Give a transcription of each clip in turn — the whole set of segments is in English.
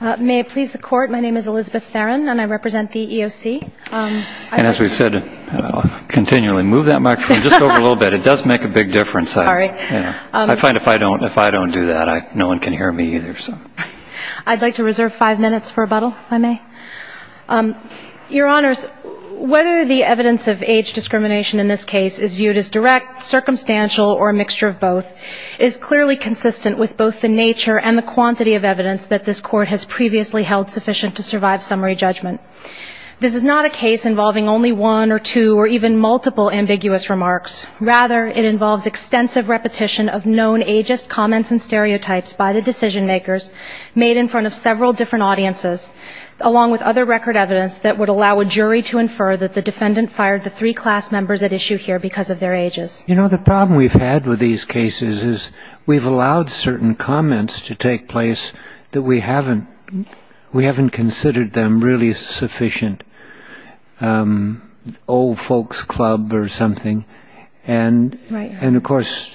May it please the Court, my name is Elizabeth Theron and I represent the EEOC. And as we said, continually move that microphone just over a little bit, it does make a big difference. Sorry. I find if I don't do that, no one can hear me either. I'd like to reserve five minutes for rebuttal, if I may. Your Honors, whether the evidence of age discrimination in this case is viewed as direct, circumstantial or a mixture of both is clearly consistent with both the nature and the quantity of evidence that this Court has previously held sufficient to survive summary judgment. This is not a case involving only one or two or even multiple ambiguous remarks. Rather, it involves extensive repetition of known ageist comments and stereotypes by the decision makers made in front of several different audiences, along with other record evidence that would allow a jury to infer that the defendant fired the three class members at issue here because of their ages. You know, the problem we've had with these cases is we've allowed certain comments to take place that we haven't considered them really sufficient. Old folks club or something. And of course,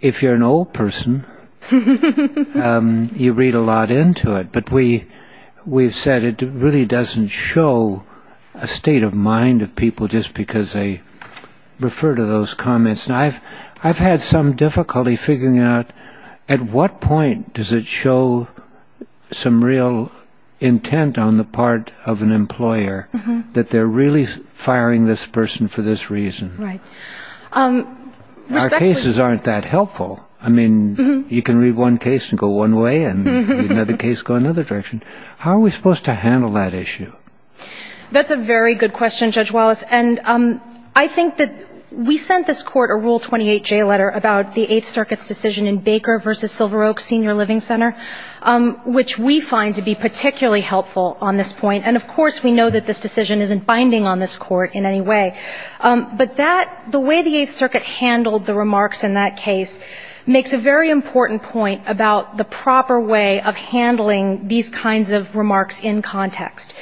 if you're an old person, you read a lot into it. But we've said it really doesn't show a state of mind of people just because they refer to those comments. And I've had some difficulty figuring out at what point does it show some real intent on the part of an employer that they're really firing this person for this reason. Our cases aren't that helpful. I mean, you can read one case and go one way and another case go another direction. How are we supposed to handle that issue? That's a very good question, Judge Wallace. And I think that we sent this Court a Rule 28J letter about the Eighth Circuit's decision in Baker v. Silver Oak Senior Living Center, which we find to be particularly helpful on this point. And of course, we know that this decision isn't binding on this Court in any way. But that, the way the Eighth Circuit handled the remarks in that case, makes a very important point about the proper way of handling these kinds of remarks in context.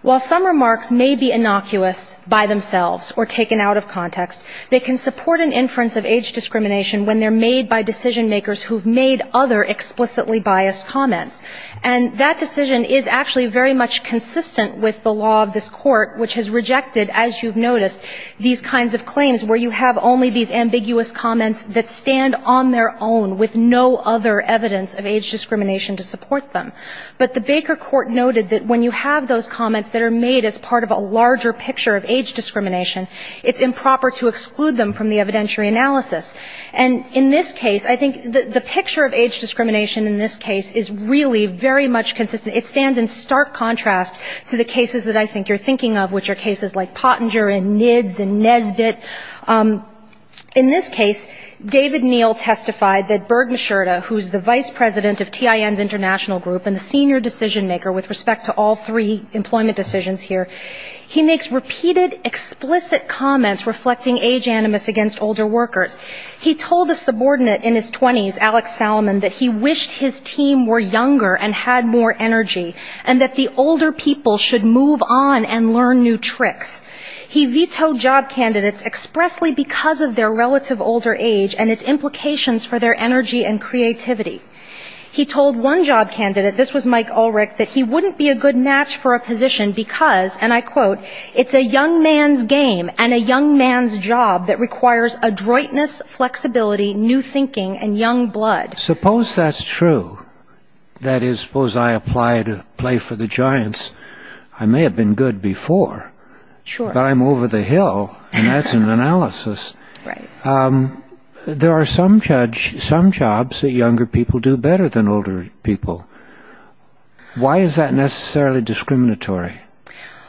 While some remarks may be innocuous by themselves or taken out of context, they can support an inference of age discrimination when they're made by decision makers who've made other explicitly biased comments. And that decision is actually very much consistent with the law of this Court, which has rejected, as you've noticed, these kinds of claims where you have only these ambiguous comments that stand on their own with no other evidence of age discrimination to support them. But the Baker Court noted that when you have those comments that are made as part of a larger picture of age discrimination, it's improper to exclude them from the evidentiary analysis. And in this case, I think the picture of age discrimination in this case is really very much consistent. It stands in stark contrast to the cases that I think you're thinking of, which are cases like Pottinger and Nibs and Nesbitt. In this case, David Neel testified that Berg Mishurta, who's the vice president of TIN's international group and the senior decision maker with respect to all three employment decisions here, he makes repeated explicit comments reflecting age animus against older workers. He told a subordinate in his 20s, Alex Salomon, that he wished his team were younger and had more energy, and that the older people should move on and learn new tricks. He vetoed job candidates expressly because of their relative older age and its implications for their energy and creativity. He told one job candidate, this was Mike Ulrich, that he wouldn't be a good match for a position because, and I quote, it's a young man's game and a young man's job that requires adroitness, flexibility, new thinking, and young blood. Suppose that's true. That is, suppose I apply to play for the Giants. I may have been good before. Sure. But I'm over the hill, and that's an analysis. Right. There are some jobs that younger people do better than older people. Why is that necessarily discriminatory?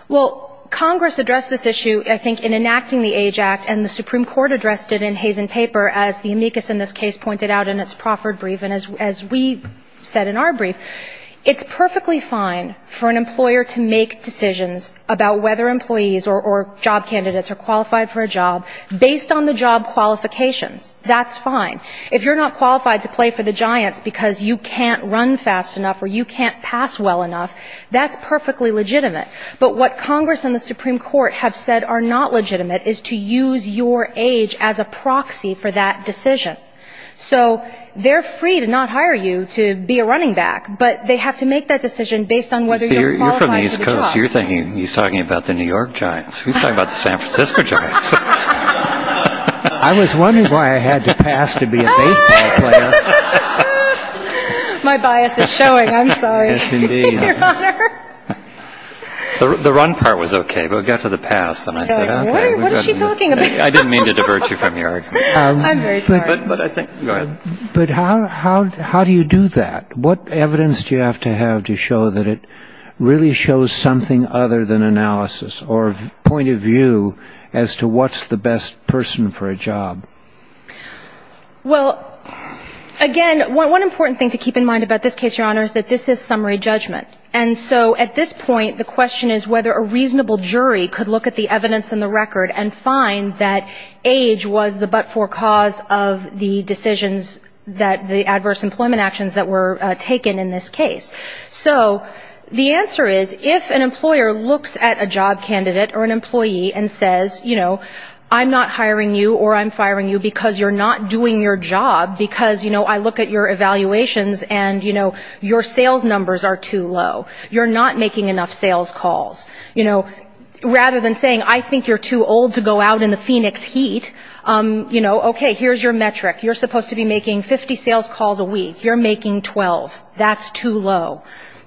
Well, Congress addressed this issue, I think, in enacting the Age Act, and the Supreme Court addressed it in Hazen Paper, as the amicus in this case pointed out in its Crawford brief, and as we said in our brief, it's perfectly fine for an employer to make decisions about whether employees or job candidates are qualified for a job based on the job qualifications. That's fine. If you're not qualified to play for the Giants because you can't run fast enough or you can't pass well enough, that's perfectly legitimate. But what Congress and the Supreme Court have said are not legitimate is to use your age as a proxy for that decision. So they're free to not hire you to be a running back, but they have to make that decision based on whether you're qualified for the job. You're from the East Coast. You're thinking he's talking about the New York Giants. He's talking about the San Francisco Giants. I was wondering why I had to pass to be a baseball player. My bias is showing. I'm sorry. Yes, indeed. Your Honor. The run part was okay, but it got to the pass, and I said, okay. What is she talking about? I didn't mean to divert you from your argument. I'm very sorry. Go ahead. But how do you do that? What evidence do you have to have to show that it really shows something other than analysis or point of view as to what's the best person for a job? Well, again, one important thing to keep in mind about this case, Your Honor, is that this is summary judgment. And so at this point, the question is whether a reasonable jury could look at the evidence in the record and find that age was the but-for cause of the decisions that the adverse employment actions that were taken in this case. So the answer is, if an employer looks at a job candidate or an employee and says, you know, I'm not hiring you or I'm firing you because you're not doing your job because, you know, I look at your evaluations and, you know, your sales numbers are too low. You're not making enough sales calls. You know, rather than saying, I think you're too old to go out in the Phoenix heat, you know, okay, here's your metric. You're supposed to be making 50 sales calls a week. You're making 12. That's too low.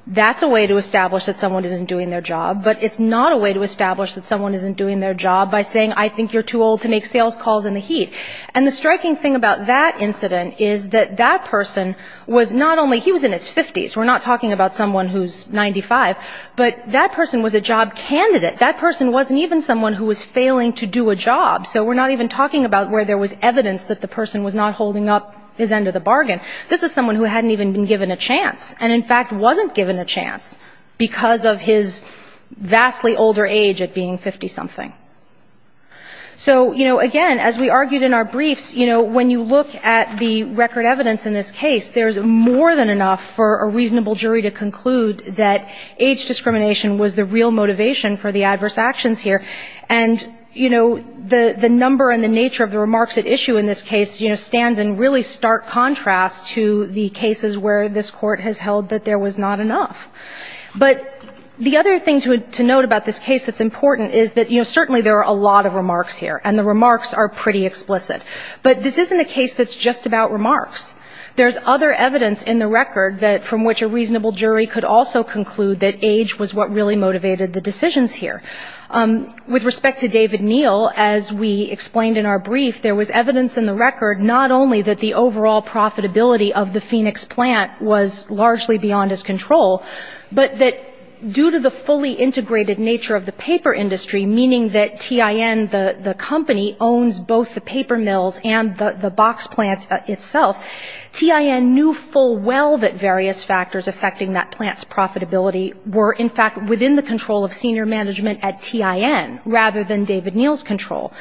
That's a way to establish that someone isn't doing their job, but it's not a way to establish that someone isn't doing their job by saying, I think you're too old to make sales calls in the heat. And the striking thing about that incident is that that person was not only he was in his 50s. We're not talking about someone who's 95. But that person was a job candidate. That person wasn't even someone who was failing to do a job. So we're not even talking about where there was evidence that the person was not holding up his end of the bargain. This is someone who hadn't even been given a chance and, in fact, wasn't given a chance because of his vastly older age at being 50-something. So, you know, again, as we argued in our briefs, you know, when you look at the record evidence in this case, there's more than enough for a reasonable jury to conclude that age discrimination was the real motivation for the adverse actions here. And, you know, the number and the nature of the remarks at issue in this case, you know, stands in really stark contrast to the cases where this Court has held that there was not enough. But the other thing to note about this case that's important is that, you know, certainly there are a lot of remarks here, and the remarks are pretty explicit. But this isn't a case that's just about remarks. There's other evidence in the record from which a reasonable jury could also conclude that age was what really motivated the decisions here. With respect to David Neal, as we explained in our brief, there was evidence in the record not only that the overall profitability of the Phoenix plant was largely beyond his control, but that due to the fully integrated nature of the paper industry, meaning that TIN, the company, owns both the paper mills and the box plant itself, TIN knew full well that various factors affecting that plant's profitability were, in fact, within the control of senior management at TIN rather than David Neal's control.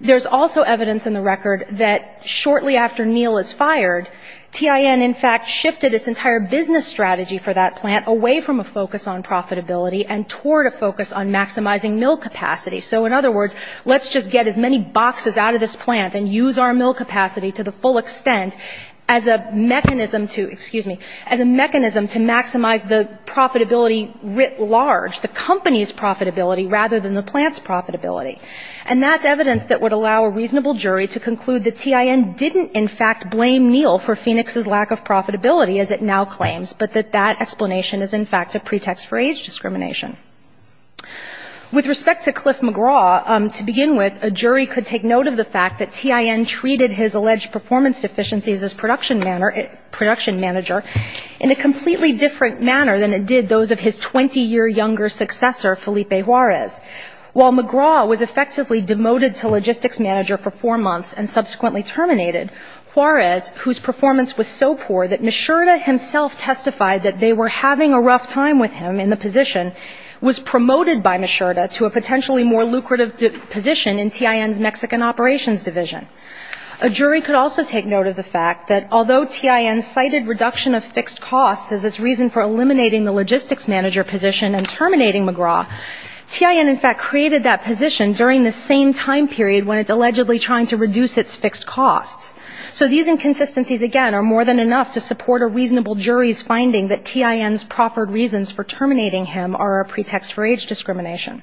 There's also evidence in the record that shortly after Neal is fired, TIN, in fact, shifted its entire business strategy for that plant away from a focus on profitability and toward a focus on maximizing mill capacity. So, in other words, let's just get as many boxes out of this plant and use our mill capacity to the full extent as a mechanism to, excuse me, as a mechanism to maximize the profitability writ large, the company's profitability rather than the plant's profitability. And that's evidence that would allow a reasonable jury to conclude that TIN didn't, in fact, blame Neal for Phoenix's lack of profitability, as it now claims, but that that explanation is, in fact, a pretext for age discrimination. With respect to Cliff McGraw, to begin with, a jury could take note of the fact that TIN treated his alleged performance deficiencies as production manager in a completely different manner than it did those of his 20-year younger successor, Felipe Juarez. While McGraw was effectively demoted to logistics manager for four months and subsequently terminated, Juarez, whose performance was so poor that Misurda himself testified that they were having a rough time with him in the position, was promoted by Misurda to a potentially more lucrative position in TIN's Mexican operations division. A jury could also take note of the fact that although TIN cited reduction of fixed costs as its reason for eliminating the logistics manager position and terminating McGraw, TIN, in fact, created that position during the same time period when it's allegedly trying to reduce its fixed costs. So these inconsistencies, again, are more than enough to support a reasonable jury's finding that TIN's proffered reasons for terminating him are a pretext for age discrimination.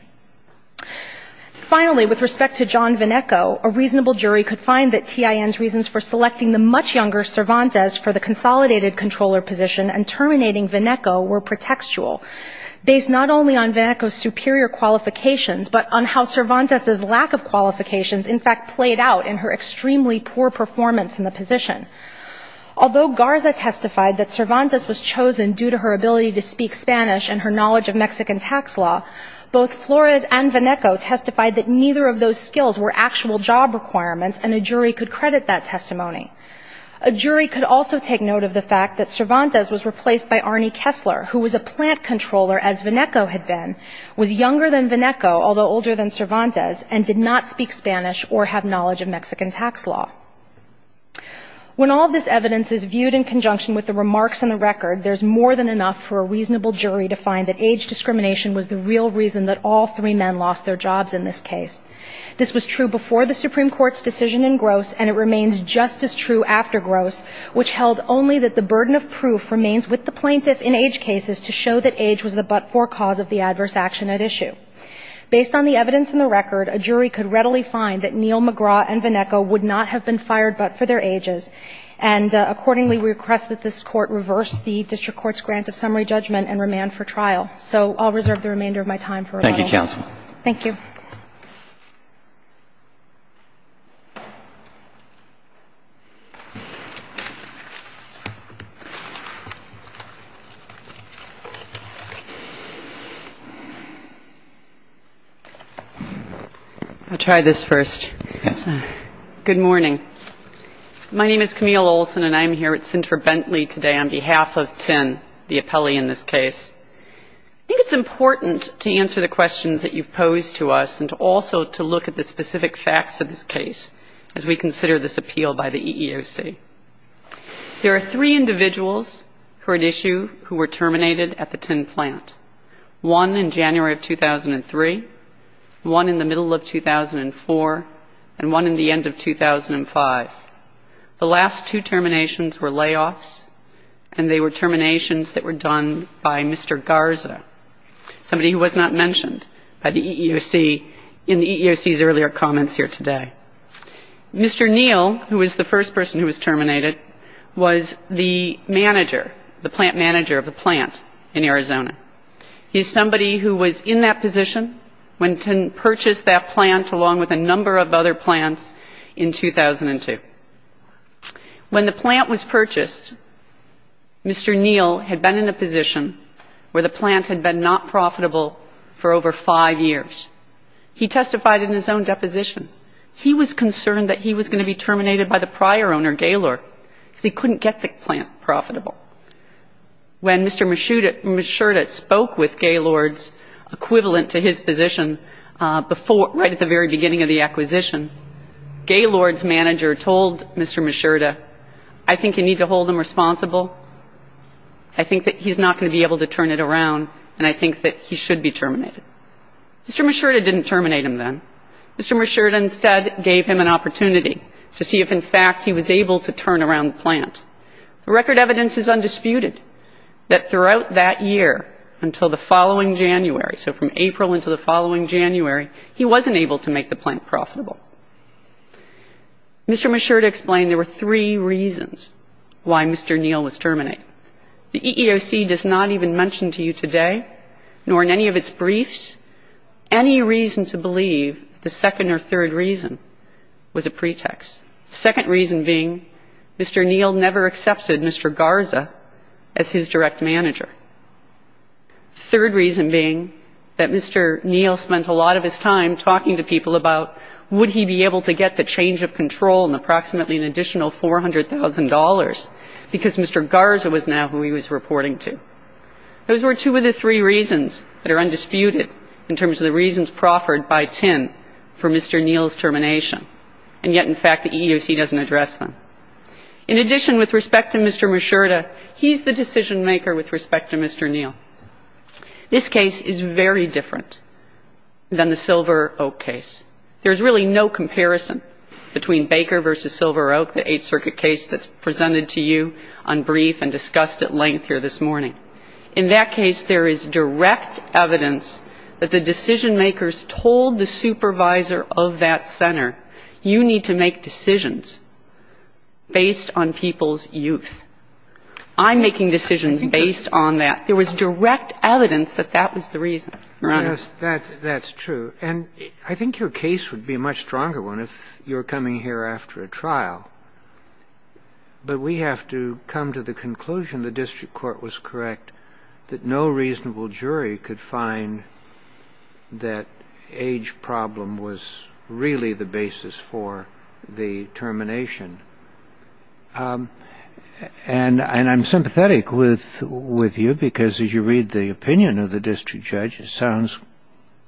Finally, with respect to John Vinneco, a reasonable jury could find that TIN's reasons for selecting the much younger Cervantes for the consolidated controller position and terminating Vinneco were pretextual, based not only on Vinneco's superior qualifications, but on how Cervantes' lack of qualifications, in fact, played out in her extremely poor performance in the position. Although Garza testified that Cervantes was chosen due to her ability to speak Spanish and her knowledge of Mexican tax law, both Flores and Vinneco testified that neither of those skills were actual job requirements, and a jury could credit that testimony. A jury could also take note of the fact that Cervantes was replaced by Arnie Kessler, who was a plant controller, as Vinneco had been, was younger than Vinneco, although older than Cervantes, and did not speak Spanish or have knowledge of Mexican tax law. When all of this evidence is viewed in conjunction with the remarks in the record, there's more than enough for a reasonable jury to find that age discrimination was the real reason that all three men lost their jobs in this case. This was true before the Supreme Court's decision in Gross, and it remains just as true after Gross, which held only that the burden of proof remains with the plaintiff in age cases to show that age was the but-for cause of the adverse action at issue. Based on the evidence in the record, a jury could readily find that Neil McGraw and Vinneco would not have been fired but for their ages, and accordingly request that this Court reverse the district court's grant of summary judgment and remand for trial. So I'll reserve the remainder of my time for rebuttal. Thank you, counsel. I'll try this first. Yes, ma'am. Good morning. My name is Camille Olson, and I'm here with Sinter-Bentley today on behalf of TIN, the appellee in this case. I think it's important to answer the questions that you've posed to us and to answer the questions that you've posed to us. And also to look at the specific facts of this case as we consider this appeal by the EEOC. There are three individuals who are at issue who were terminated at the TIN plant, one in January of 2003, one in the middle of 2004, and one in the end of 2005. The last two terminations were layoffs, and they were terminations that were done by Mr. Garza, somebody who was not mentioned by the EEOC in the EEOC's earlier comments here today. Mr. Neal, who was the first person who was terminated, was the manager, the plant manager of the plant in Arizona. He's somebody who was in that position when TIN purchased that plant along with a number of other plants in 2002. When the plant was purchased, Mr. Neal had been in a position where the plant had been not profitable for over five years. He testified in his own deposition. He was concerned that he was going to be terminated by the prior owner, Gaylord, because he couldn't get the plant profitable. When Mr. Mishurda spoke with Gaylord's equivalent to his position right at the very beginning of the acquisition, Gaylord's manager told Mr. Mishurda, I think you need to hold him responsible. I think that he's not going to be able to turn it around, and I think that he should be terminated. Mr. Mishurda didn't terminate him then. Mr. Mishurda instead gave him an opportunity to see if, in fact, he was able to turn around the plant. The record evidence is undisputed that throughout that year until the following January, so from April until the following January, he wasn't able to make the plant profitable. Mr. Mishurda explained there were three reasons why Mr. Neal was terminated. The EEOC does not even mention to you today, nor in any of its briefs, any reason to believe the second or third reason was a pretext. The second reason being Mr. Neal never accepted Mr. Garza as his direct manager. The third reason being that Mr. Neal spent a lot of his time talking to people about would he be able to get the change of control and approximately an additional $400,000 because Mr. Garza was now who he was reporting to. Those were two of the three reasons that are undisputed in terms of the reasons proffered by TIN for Mr. Neal's termination, and yet, in fact, the EEOC doesn't address them. In addition, with respect to Mr. Mishurda, he's the decision-maker with respect to Mr. Neal. This case is very different than the Silver Oak case. There's really no comparison between Baker versus Silver Oak, the Eighth Circuit case that's presented to you on brief and discussed at length here this morning. In that case, there is direct evidence that the decision-makers told the supervisor of that center, you need to make decisions based on people's youth. I'm making decisions based on that. There was direct evidence that that was the reason, Your Honor. That's true. And I think your case would be a much stronger one if you're coming here after a trial, but we have to come to the conclusion the district court was correct that no reasonable basis for the termination. And I'm sympathetic with you because as you read the opinion of the district judge, it sounds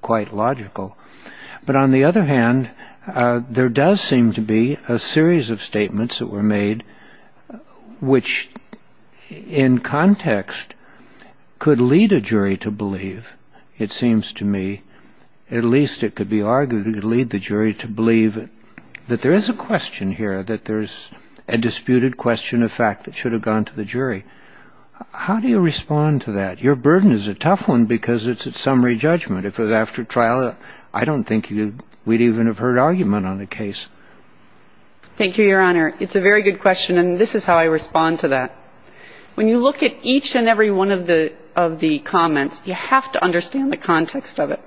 quite logical. But on the other hand, there does seem to be a series of statements that were made which, in context, could lead a jury to believe, it seems to me, at least it could be argued could lead the jury to believe that there is a question here, that there's a disputed question of fact that should have gone to the jury. How do you respond to that? Your burden is a tough one because it's a summary judgment. If it was after trial, I don't think we'd even have heard argument on the case. Thank you, Your Honor. It's a very good question, and this is how I respond to that. When you look at each and every one of the comments, you have to understand the context of it.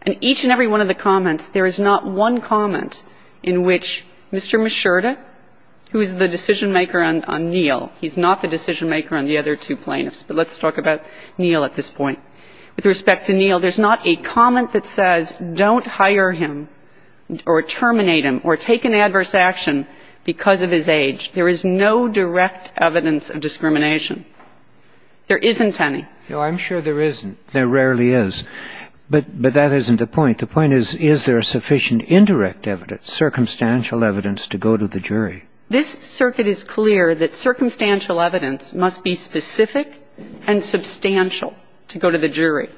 And each and every one of the comments, there is not one comment in which Mr. Mishurda, who is the decision-maker on Neal, he's not the decision-maker on the other two plaintiffs, but let's talk about Neal at this point. With respect to Neal, there's not a comment that says don't hire him or terminate him or take an adverse action because of his age. There is no direct evidence of discrimination. There isn't any. No, I'm sure there isn't. There rarely is. But that isn't the point. The point is, is there sufficient indirect evidence, circumstantial evidence, to go to the jury? This circuit is clear that circumstantial evidence must be specific and substantial to go to the jury.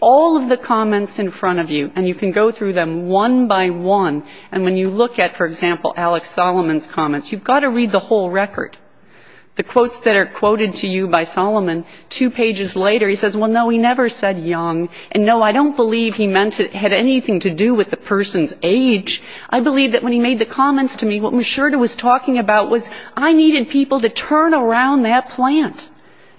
All of the comments in front of you, and you can go through them one by one, and when you look at, for example, Alex Solomon's comments, you've got to read the whole record. The quotes that are quoted to you by Solomon, two pages later, he says, well, no, he never said young. And, no, I don't believe he meant it had anything to do with the person's age. I believe that when he made the comments to me, what Mishurda was talking about was I needed people to turn around that plant.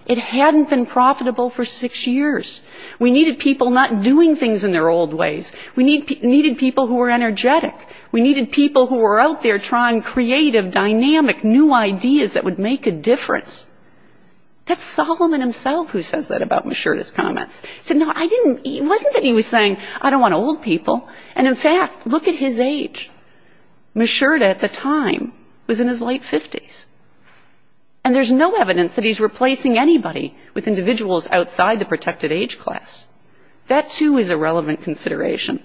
It hadn't been profitable for six years. We needed people not doing things in their old ways. We needed people who were energetic. We needed people who were out there trying creative, dynamic, new ideas that would make a difference. That's Solomon himself who says that about Mishurda's comments. He said, no, I didn't, it wasn't that he was saying I don't want old people. And, in fact, look at his age. Mishurda at the time was in his late 50s. And there's no evidence that he's replacing anybody with individuals outside the protected age class. That, too, is a relevant consideration.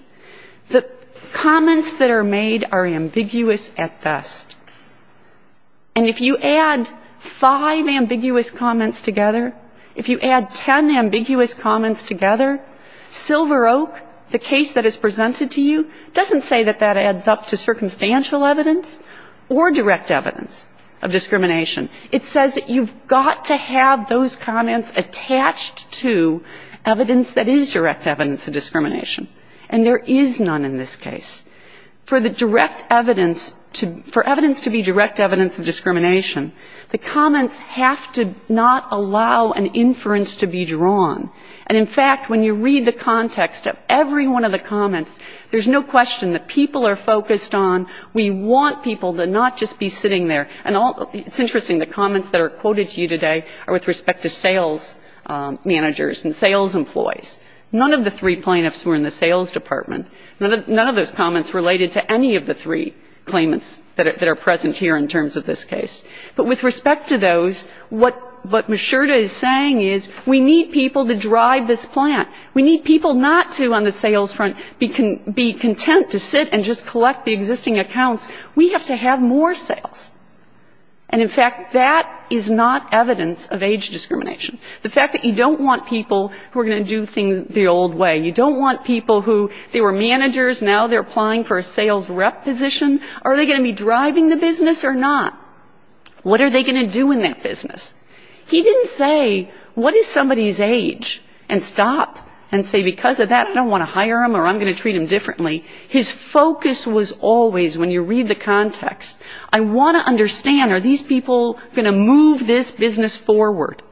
The comments that are made are ambiguous at best. And if you add five ambiguous comments together, if you add ten ambiguous comments together, Silver Oak, the case that is presented to you, doesn't say that that adds up to circumstantial evidence or direct evidence of discrimination. It says that you've got to have those comments attached to evidence that is direct evidence of discrimination. And there is none in this case. For the direct evidence to be direct evidence of discrimination, the comments have to not allow an inference to be drawn. And, in fact, when you read the context of every one of the comments, there's no question that people are focused on. We want people to not just be sitting there. And it's interesting, the comments that are quoted to you today are with respect to sales managers and sales employees. None of the three plaintiffs were in the sales department. None of those comments related to any of the three claimants that are present here in terms of this case. But with respect to those, what Mishurta is saying is we need people to drive this plant. We need people not to, on the sales front, be content to sit and just collect the existing accounts. We have to have more sales. And, in fact, that is not evidence of age discrimination. The fact that you don't want people who are going to do things the old way. You don't want people who they were managers, now they're applying for a sales rep position. Are they going to be driving the business or not? What are they going to do in that business? He didn't say what is somebody's age and stop and say because of that I don't want to hire him or I'm going to treat him differently. His focus was always, when you read the context, I want to understand are these people going to move this business forward.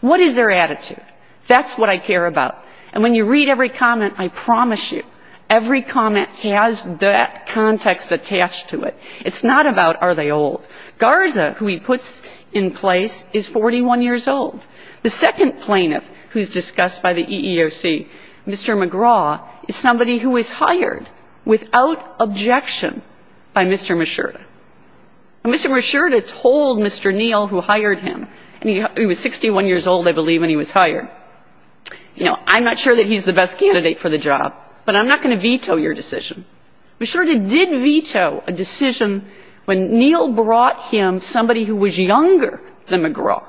What is their attitude? That's what I care about. And when you read every comment, I promise you, every comment has that context attached to it. It's not about are they old. Garza, who he puts in place, is 41 years old. The second plaintiff who is discussed by the EEOC, Mr. McGraw, is somebody who was hired without objection by Mr. Mishurta. Mr. Mishurta told Mr. Neal, who hired him, and he was 61 years old, I believe, when he was hired, you know, I'm not sure that he's the best candidate for the job, but I'm not going to veto your decision. Mishurta did veto a decision when Neal brought him somebody who was younger than McGraw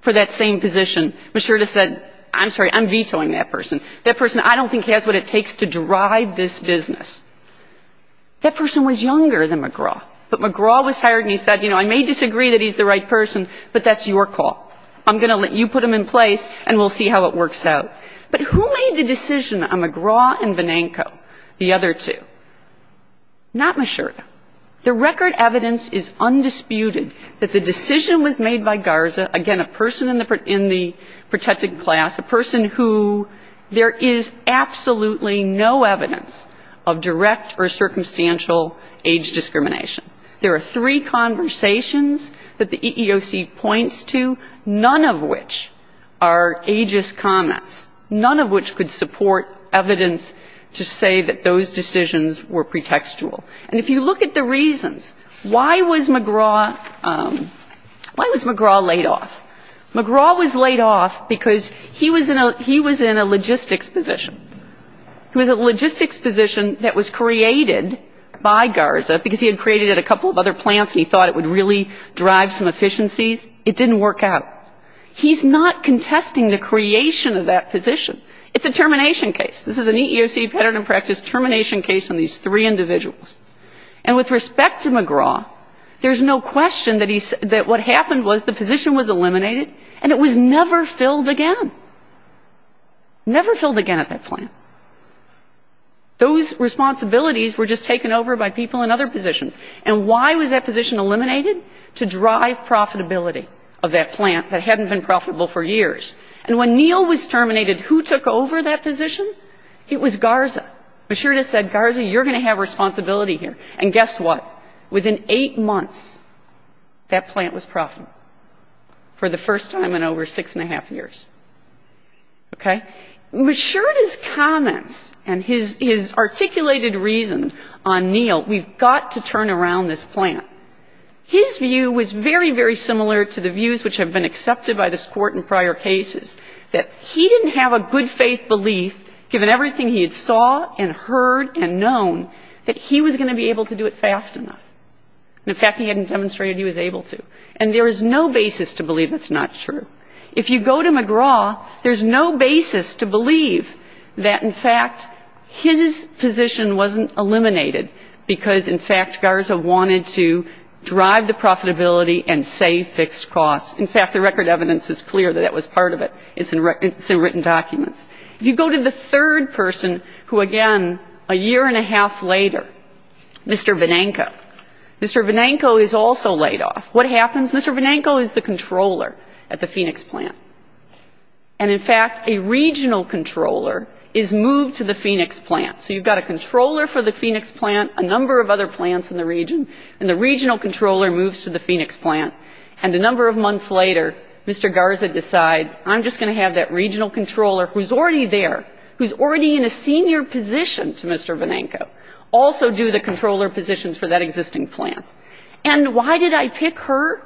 for that same position. Mishurta said, I'm sorry, I'm vetoing that person. That person I don't think has what it takes to drive this business. That person was younger than McGraw, but McGraw was hired and he said, you know, I may disagree that he's the right person, but that's your call. I'm going to let you put him in place and we'll see how it works out. But who made the decision on McGraw and Venenco, the other two? Not Mishurta. The record evidence is undisputed that the decision was made by Garza, again, a person in the protected class, a person who there is absolutely no evidence of direct or circumstantial age discrimination. There are three conversations that the EEOC points to, none of which are ageist comments, none of which could support evidence to say that those decisions were pretextual. And if you look at the reasons, why was McGraw laid off? McGraw was laid off because he was in a logistics position. He was in a logistics position that was created by Garza because he had created it at a couple of other plants and he thought it would really drive some efficiencies. It didn't work out. He's not contesting the creation of that position. It's a termination case. This is an EEOC pattern and practice termination case on these three individuals. And with respect to McGraw, there's no question that what happened was the position was eliminated and it was never filled again, never filled again at that plant. Those responsibilities were just taken over by people in other positions. And why was that position eliminated? To drive profitability of that plant that hadn't been profitable for years. And when Neal was terminated, who took over that position? It was Garza. Maschurda said, Garza, you're going to have responsibility here. And guess what? Within eight months, that plant was profitable for the first time in over six and a half years. Okay? Maschurda's comments and his articulated reason on Neal, we've got to turn around this plant. His view was very, very similar to the views which have been accepted by this Court in prior cases, that he didn't have a good faith belief, given everything he had saw and heard and known, that he was going to be able to do it fast enough. And, in fact, he hadn't demonstrated he was able to. And there is no basis to believe that's not true. If you go to McGraw, there's no basis to believe that, in fact, his position wasn't eliminated, because, in fact, Garza wanted to drive the profitability and save fixed costs. In fact, the record evidence is clear that that was part of it. It's in written documents. If you go to the third person who, again, a year and a half later, Mr. Benenko, Mr. Benenko is also laid off. What happens? Mr. Benenko is the controller at the Phoenix plant. And, in fact, a regional controller is moved to the Phoenix plant. So you've got a controller for the Phoenix plant, a number of other plants in the region, and the regional controller moves to the Phoenix plant. And a number of months later, Mr. Garza decides, I'm just going to have that regional controller, who's already there, who's already in a senior position to Mr. Benenko, also do the controller positions for that existing plant. And why did I pick her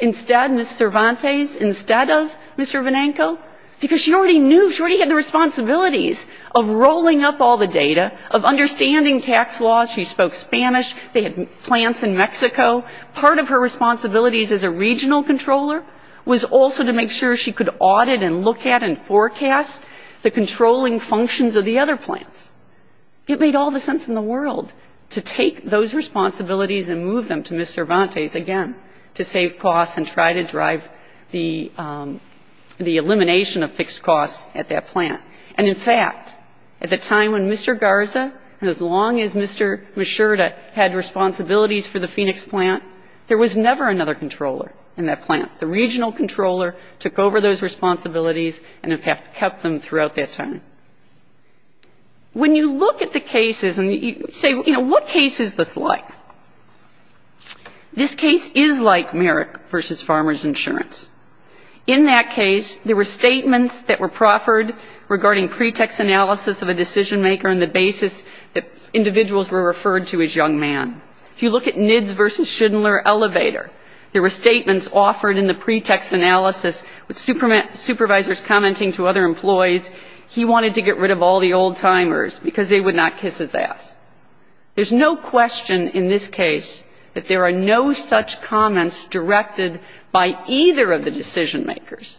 instead, Ms. Cervantes, instead of Mr. Benenko? Because she already knew, she already had the responsibilities of rolling up all the data, of understanding tax laws. She spoke Spanish. They had plants in Mexico. Part of her responsibilities as a regional controller was also to make sure she could audit and look at and forecast the controlling functions of the other plants. It made all the sense in the world to take those responsibilities and move them to Ms. Cervantes, again, to save costs and try to drive the elimination of fixed costs at that plant. And, in fact, at the time when Mr. Garza, and as long as Mr. Mishurta, had responsibilities for the Phoenix plant, there was never another controller in that plant. The regional controller took over those responsibilities and, in fact, kept them throughout that time. When you look at the cases and you say, you know, what case is this like? This case is like Merrick v. Farmers Insurance. In that case, there were statements that were proffered regarding pretext analysis of a decision maker and the basis that individuals were referred to as young man. If you look at Nids v. Schindler Elevator, there were statements offered in the pretext analysis with supervisors commenting to other employees he wanted to get rid of all the old-timers because they would not kiss his ass. There's no question in this case that there are no such comments directed by either of the decision makers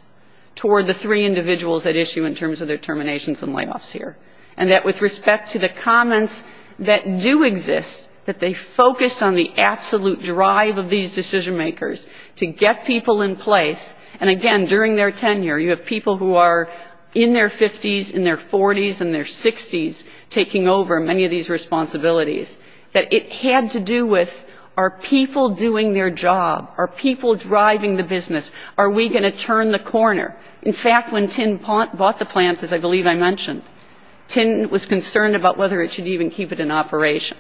toward the three individuals at issue in terms of their terminations and layoffs here, and that with respect to the comments that do exist, that they focused on the absolute drive of these decision makers to get people in place, and, again, during their tenure, you have people who are in their 50s, in their 40s, in their 60s taking over many of these responsibilities, that it had to do with, are people doing their job? Are people driving the business? Are we going to turn the corner? In fact, when Tin bought the plant, as I believe I mentioned, Tin was concerned about whether it should even keep it in operation.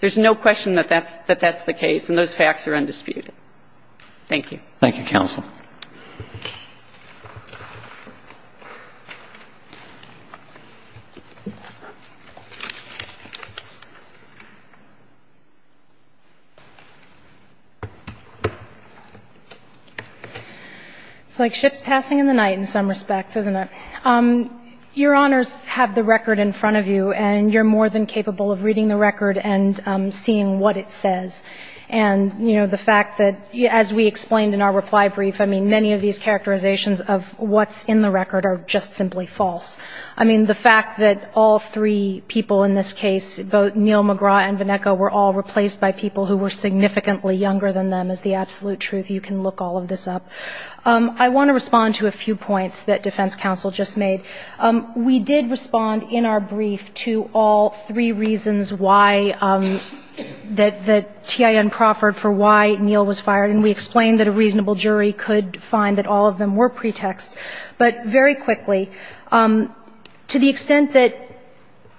There's no question that that's the case, and those facts are undisputed. Thank you. Thank you, counsel. It's like ships passing in the night in some respects, isn't it? Your Honors have the record in front of you, and you're more than capable of reading the record and seeing what it says. And, you know, the fact that, as we explained in our reply brief, I mean, many of these characterizations of what's in the record are just simply false. I mean, the fact that all three people in this case, both Neal McGraw and Vannecca, were all replaced by people who were significantly younger than them is the absolute truth. You can look all of this up. I want to respond to a few points that defense counsel just made. We did respond in our brief to all three reasons why that Tin proffered for why Neal was fired, and we explained that a reasonable jury could find that all of them were pretexts. But very quickly, to the extent that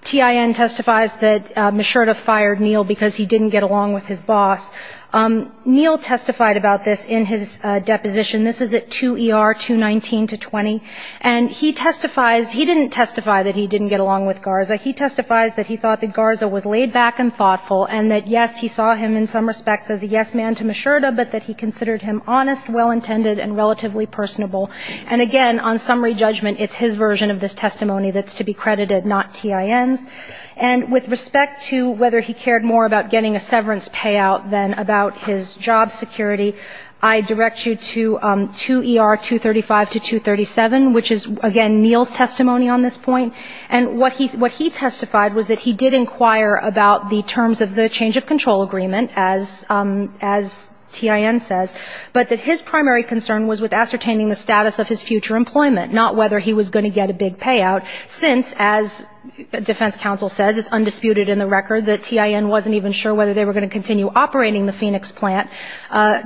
Tin testifies that Mishurda fired Neal because he didn't get along with his boss, Neal testified about this in his deposition. This is at 2ER 219-20, and he testifies he didn't testify that he didn't get along with Garza. He testifies that he thought that Garza was laid-back and thoughtful, and that, yes, he saw him in some respects as a yes man to Mishurda, but that he considered him honest, well-intended, and relatively personable. And, again, on summary judgment, it's his version of this testimony that's to be credited, not Tin's. And with respect to whether he cared more about getting a severance payout than about his job security, I direct you to 2ER 235-237, which is, again, Neal's testimony on this point. And what he testified was that he did inquire about the terms of the change-of-control agreement, as Tin says, but that his primary concern was with ascertaining the status of his future employment, not whether he was going to get a big payout, since, as defense counsel says, it's undisputed in the record that Tin wasn't even sure whether they were going to continue operating the Phoenix plant.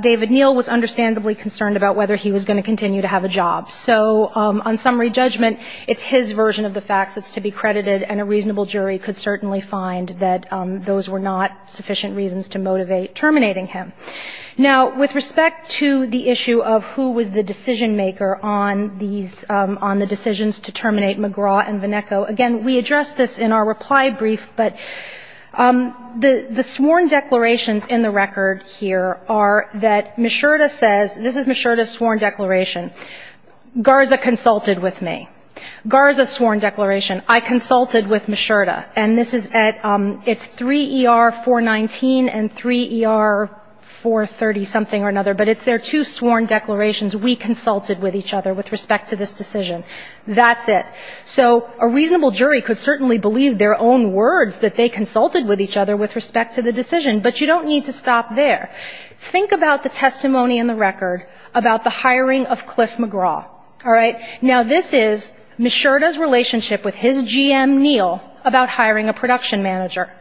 David Neal was understandably concerned about whether he was going to continue to have a job. So on summary judgment, it's his version of the facts that's to be credited, and a reasonable jury could certainly find that those were not sufficient reasons to motivate terminating him. Now, with respect to the issue of who was the decision-maker on these, on the decisions to terminate McGraw and VanEcko, again, we addressed this in our reply brief, but the sworn declarations in the record here are that Mishurda says, this is Mishurda's sworn declaration, Garza consulted with me. Garza's sworn declaration, I consulted with Mishurda. And this is at, it's 3ER-419 and 3ER-430-something or another, but it's their two sworn declarations, we consulted with each other with respect to this decision. That's it. So a reasonable jury could certainly believe their own words that they consulted with each other with respect to the decision, but you don't need to stop there. Think about the testimony in the record about the hiring of Cliff McGraw, all right? Now, this is Mishurda's relationship with his GM, Neal, about hiring a production manager.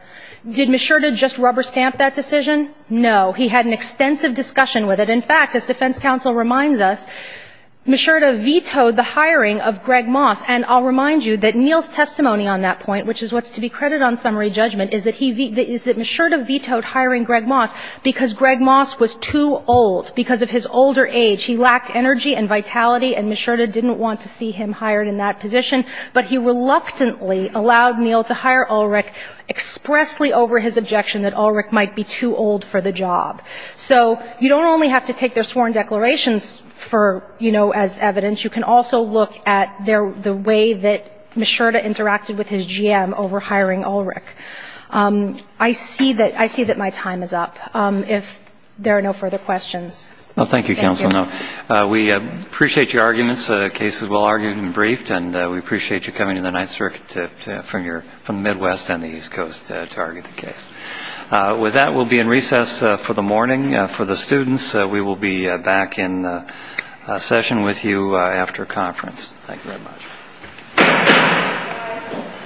Did Mishurda just rubber stamp that decision? No, he had an extensive discussion with it. And in fact, as defense counsel reminds us, Mishurda vetoed the hiring of Greg Moss. And I'll remind you that Neal's testimony on that point, which is what's to be credited on summary judgment, is that he, is that Mishurda vetoed hiring Greg Moss because Greg Moss was too old, because of his older age, he lacked energy and vitality, and Mishurda didn't want to see him hired in that position, but he reluctantly allowed Neal to hire Ulrich expressly over his objection that Ulrich might be too old for the job. So you don't only have to take their sworn declarations for, you know, as evidence, you can also look at their, the way that Mishurda interacted with his GM over hiring Ulrich. I see that, I see that my time is up. If there are no further questions. Well, thank you, counsel. We appreciate your arguments. The case is well-argued and briefed, and we appreciate you coming to the Ninth Circuit from your, from the Midwest and the East Coast to argue the case. With that, we'll be in recess for the morning. For the students, we will be back in session with you after conference. Thank you very much.